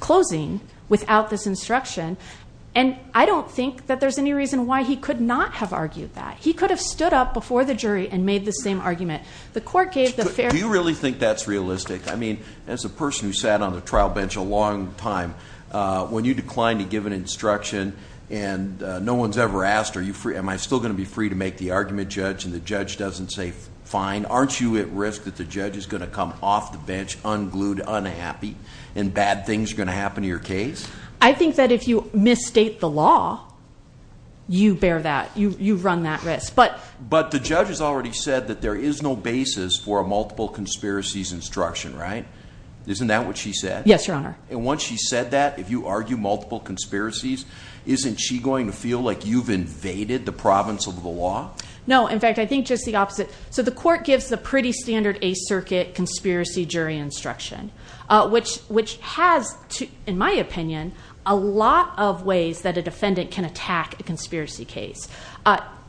closing without this instruction, and I don't think that there's any reason why he could not have argued that. He could have stood up before the jury and made the same argument. Do you really think that's realistic? I mean, as a person who sat on the trial bench a long time, when you decline to give an instruction and no one's ever asked, am I still going to be free to make the argument, Judge, and the judge doesn't say fine? Aren't you at risk that the judge is going to come off the bench unglued, unhappy, and bad things are going to happen to your case? I think that if you misstate the law, you bear that, you run that risk. But the judge has already said that there is no basis for a multiple conspiracies instruction, right? Isn't that what she said? Yes, Your Honor. And once she said that, if you argue multiple conspiracies, isn't she going to feel like you've invaded the province of the law? No. In fact, I think just the opposite. So the court gives the pretty standard Eighth Circuit conspiracy jury instruction, which has, in my opinion, a lot of ways that a defendant can attack a conspiracy case.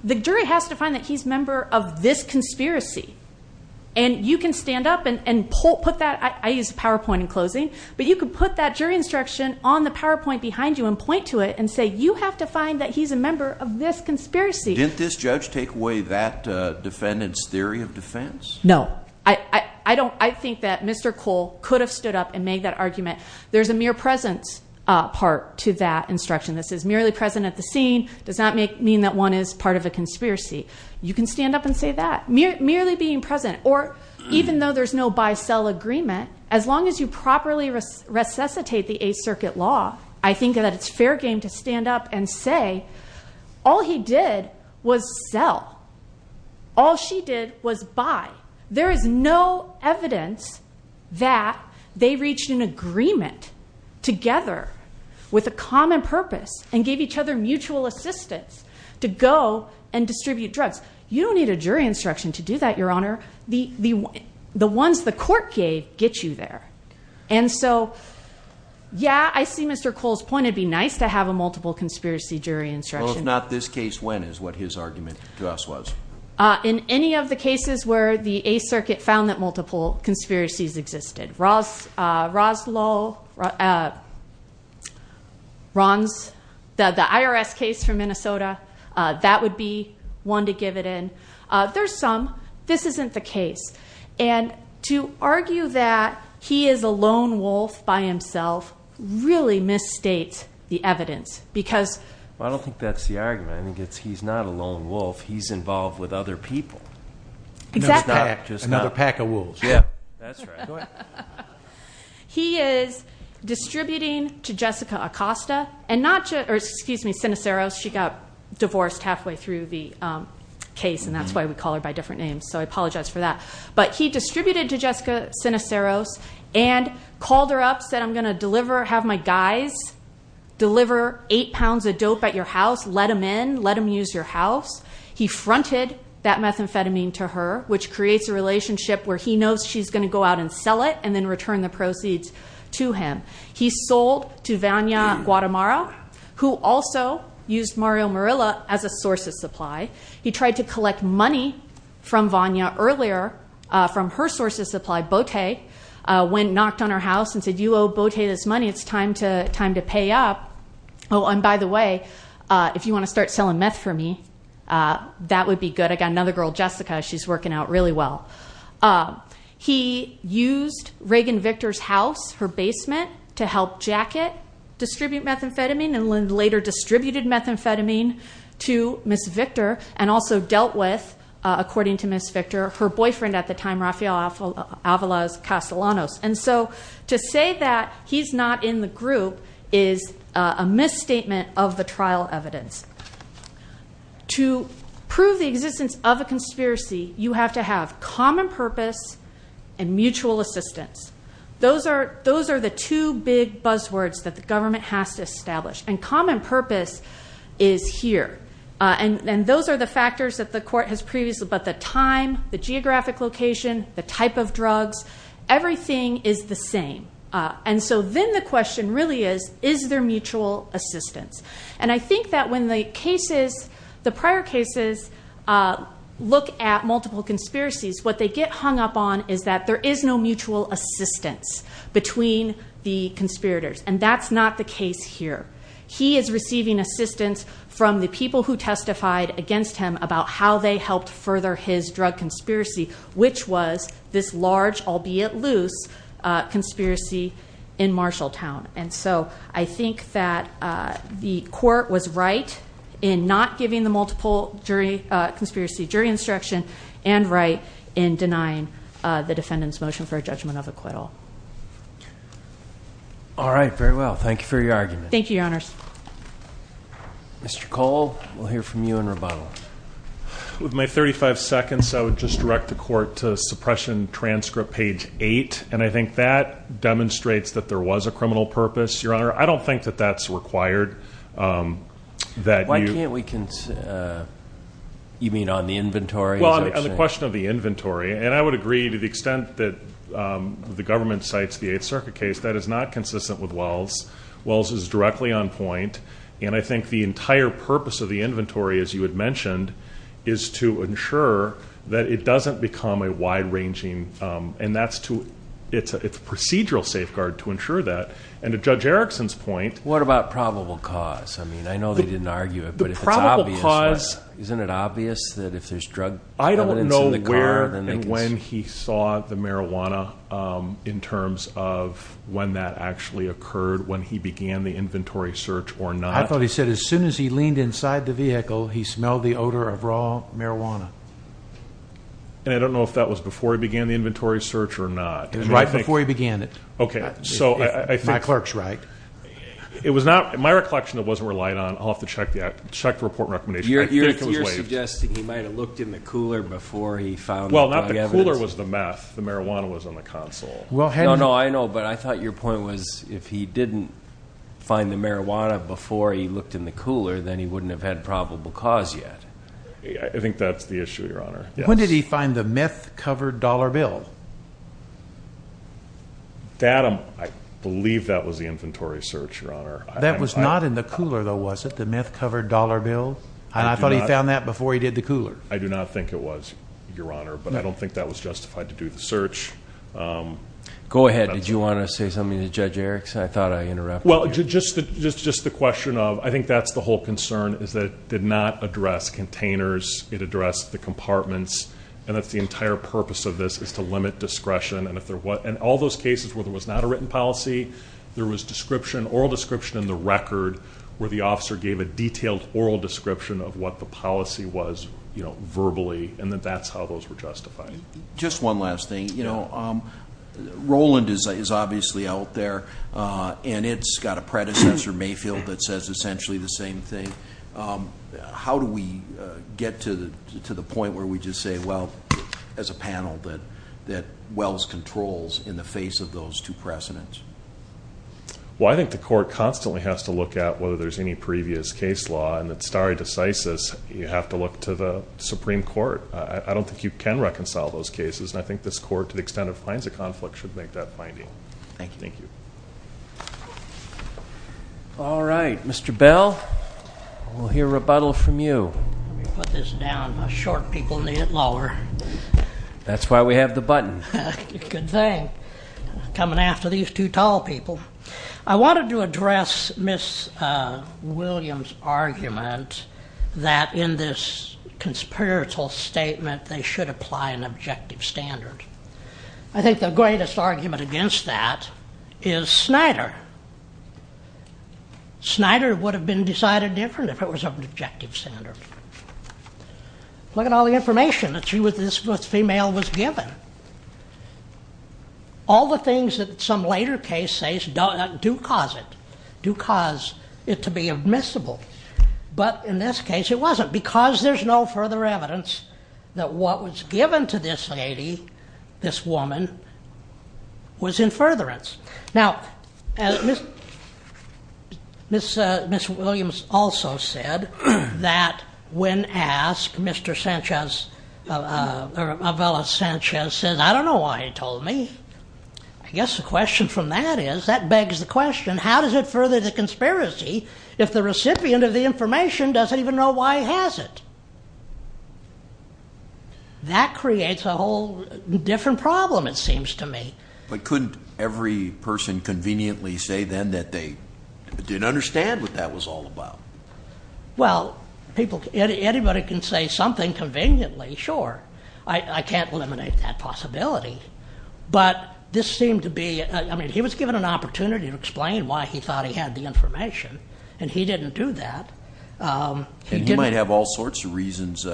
The jury has to find that he's a member of this conspiracy, and you can stand up and put that. I used PowerPoint in closing. But you can put that jury instruction on the PowerPoint behind you and point to it and say you have to find that he's a member of this conspiracy. Didn't this judge take away that defendant's theory of defense? No. I think that Mr. Cole could have stood up and made that argument. There's a mere presence part to that instruction. This is merely present at the scene, does not mean that one is part of a conspiracy. You can stand up and say that, merely being present. Or even though there's no buy-sell agreement, as long as you properly resuscitate the Eighth Circuit law, I think that it's fair game to stand up and say all he did was sell. All she did was buy. There is no evidence that they reached an agreement together with a common purpose and gave each other mutual assistance to go and distribute drugs. You don't need a jury instruction to do that, Your Honor. The ones the court gave get you there. And so, yeah, I see Mr. Cole's point. It would be nice to have a multiple conspiracy jury instruction. Well, if not this case, when is what his argument to us was? In any of the cases where the Eighth Circuit found that multiple conspiracies existed. The IRS case from Minnesota, that would be one to give it in. There's some. This isn't the case. And to argue that he is a lone wolf by himself really misstates the evidence. Well, I don't think that's the argument. I think he's not a lone wolf. Exactly. Another pack of wolves. That's right. Go ahead. He is distributing to Jessica Acosta and not just—or excuse me, Sinaceros. She got divorced halfway through the case, and that's why we call her by different names. So I apologize for that. But he distributed to Jessica Sinaceros and called her up, said, I'm going to deliver, have my guys deliver eight pounds of dope at your house. Let them in. Let them use your house. He fronted that methamphetamine to her, which creates a relationship where he knows she's going to go out and sell it and then return the proceeds to him. He sold to Vanya Guatemara, who also used Mario Murilla as a source of supply. He tried to collect money from Vanya earlier from her source of supply, Bote, went and knocked on her house and said, you owe Bote this money. It's time to pay up. Oh, and by the way, if you want to start selling meth for me, that would be good. I got another girl, Jessica. She's working out really well. He used Reagan Victor's house, her basement, to help Jacket distribute methamphetamine and later distributed methamphetamine to Ms. Victor and also dealt with, according to Ms. Victor, her boyfriend at the time, Rafael Avalos Castellanos. And so to say that he's not in the group is a misstatement of the trial evidence. To prove the existence of a conspiracy, you have to have common purpose and mutual assistance. Those are the two big buzzwords that the government has to establish. And common purpose is here. And those are the factors that the court has previously, but the time, the geographic location, the type of drugs, everything is the same. And so then the question really is, is there mutual assistance? And I think that when the prior cases look at multiple conspiracies, what they get hung up on is that there is no mutual assistance between the conspirators, and that's not the case here. He is receiving assistance from the people who testified against him about how they helped further his drug conspiracy, which was this large, albeit loose, conspiracy in Marshalltown. And so I think that the court was right in not giving the multiple conspiracy jury instruction and right in denying the defendant's motion for a judgment of acquittal. All right, very well. Thank you, Your Honors. Mr. Cole, we'll hear from you in rebuttal. With my 35 seconds, I would just direct the court to suppression transcript page 8, and I think that demonstrates that there was a criminal purpose, Your Honor. I don't think that that's required. Why can't we, you mean on the inventory? Well, on the question of the inventory, and I would agree to the extent that the government cites the Eighth Circuit case, that is not consistent with Wells. Wells is directly on point, and I think the entire purpose of the inventory, as you had mentioned, is to ensure that it doesn't become a wide-ranging, and it's a procedural safeguard to ensure that. And to Judge Erickson's point, What about probable cause? I mean, I know they didn't argue it, but if it's obvious, isn't it obvious that if there's drug evidence in the car, I don't know where and when he saw the marijuana in terms of when that actually occurred, when he began the inventory search or not. I thought he said as soon as he leaned inside the vehicle, he smelled the odor of raw marijuana. And I don't know if that was before he began the inventory search or not. It was right before he began it. Okay, so I think- If my clerk's right. It was not, in my recollection, it wasn't relied on. I'll have to check the report and recommendation. I think it was waived. You're suggesting he might have looked in the cooler before he found the drug evidence? The cooler was the meth. The marijuana was on the console. No, no, I know, but I thought your point was if he didn't find the marijuana before he looked in the cooler, then he wouldn't have had probable cause yet. I think that's the issue, Your Honor. When did he find the meth-covered dollar bill? I believe that was the inventory search, Your Honor. That was not in the cooler, though, was it? The meth-covered dollar bill? I thought he found that before he did the cooler. I do not think it was, Your Honor, but I don't think that was justified to do the search. Go ahead. Did you want to say something to Judge Erickson? I thought I interrupted you. Well, just the question of I think that's the whole concern is that it did not address containers. It addressed the compartments, and that's the entire purpose of this is to limit discretion. And all those cases where there was not a written policy, there was oral description in the record where the officer gave a detailed oral description of what the policy was verbally, and that that's how those were justified. Just one last thing. Roland is obviously out there, and it's got a predecessor, Mayfield, that says essentially the same thing. How do we get to the point where we just say, well, as a panel, that Wells controls in the face of those two precedents? Well, I think the court constantly has to look at whether there's any previous case law, and that stare decisis, you have to look to the Supreme Court. I don't think you can reconcile those cases, and I think this court to the extent it finds a conflict should make that finding. Thank you. Thank you. All right. Mr. Bell, we'll hear rebuttal from you. Let me put this down. My short people need it lower. That's why we have the button. Good thing. Coming after these two tall people. I wanted to address Ms. Williams' argument that in this conspiratorial statement, they should apply an objective standard. I think the greatest argument against that is Snyder. Snyder would have been decided different if it was an objective standard. Look at all the information that this female was given. All the things that some later case says do cause it, do cause it to be admissible, but in this case it wasn't because there's no further evidence that what was given to this lady, this woman, was in furtherance. Now, Ms. Williams also said that when asked, Mr. Sanchez says, I don't know why he told me. I guess the question from that is, that begs the question, how does it further the conspiracy if the recipient of the information doesn't even know why he has it? That creates a whole different problem, it seems to me. But couldn't every person conveniently say then that they didn't understand what that was all about? Well, anybody can say something conveniently, sure. I can't eliminate that possibility. But this seemed to be, I mean, he was given an opportunity to explain why he thought he had the information, and he didn't do that. And he might have all sorts of reasons,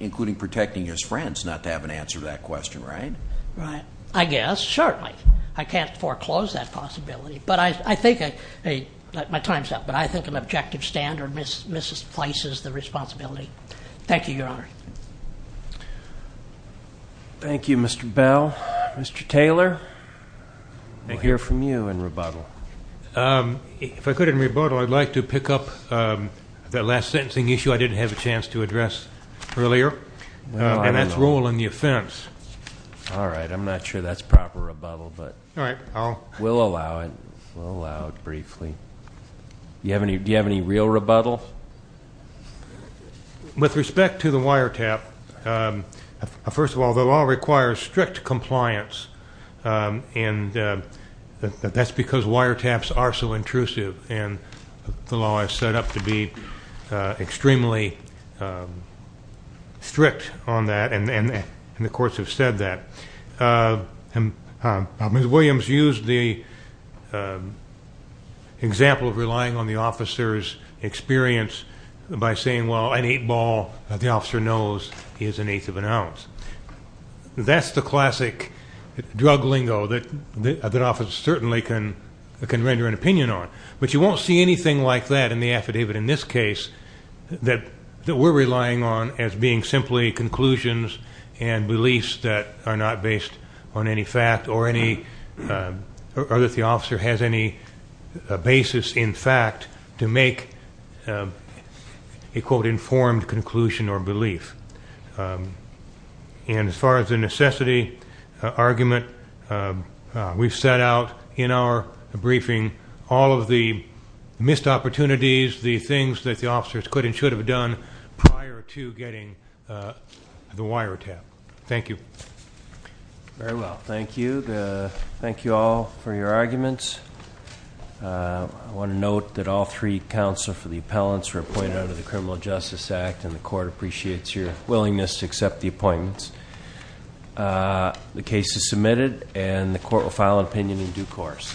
including protecting his friends, not to have an answer to that question, right? I guess, certainly. I can't foreclose that possibility. But I think, hey, my time's up, but I think an objective standard misplaces the responsibility. Thank you, Your Honor. Thank you, Mr. Bell. Mr. Taylor, I hear from you in rebuttal. If I could, in rebuttal, I'd like to pick up that last sentencing issue I didn't have a chance to address earlier, and that's rule in the offense. All right. I'm not sure that's proper rebuttal, but we'll allow it. We'll allow it briefly. Do you have any real rebuttal? With respect to the wiretap, first of all, the law requires strict compliance, and that's because wiretaps are so intrusive, and the law is set up to be extremely strict on that, and the courts have said that. Ms. Williams used the example of relying on the officer's experience by saying, well, an eight ball, the officer knows, is an eighth of an ounce. That's the classic drug lingo that an officer certainly can render an opinion on, but you won't see anything like that in the affidavit in this case that we're relying on as being simply conclusions and beliefs that are not based on any fact or that the officer has any basis in fact to make a, quote, And as far as the necessity argument, we've set out in our briefing all of the missed opportunities, the things that the officers could and should have done prior to getting the wiretap. Thank you. Very well. Thank you. Thank you all for your arguments. I want to note that all three counsel for the appellants were appointed under the Criminal Justice Act, and the court appreciates your willingness to accept the appointments. The case is submitted, and the court will file an opinion in due course.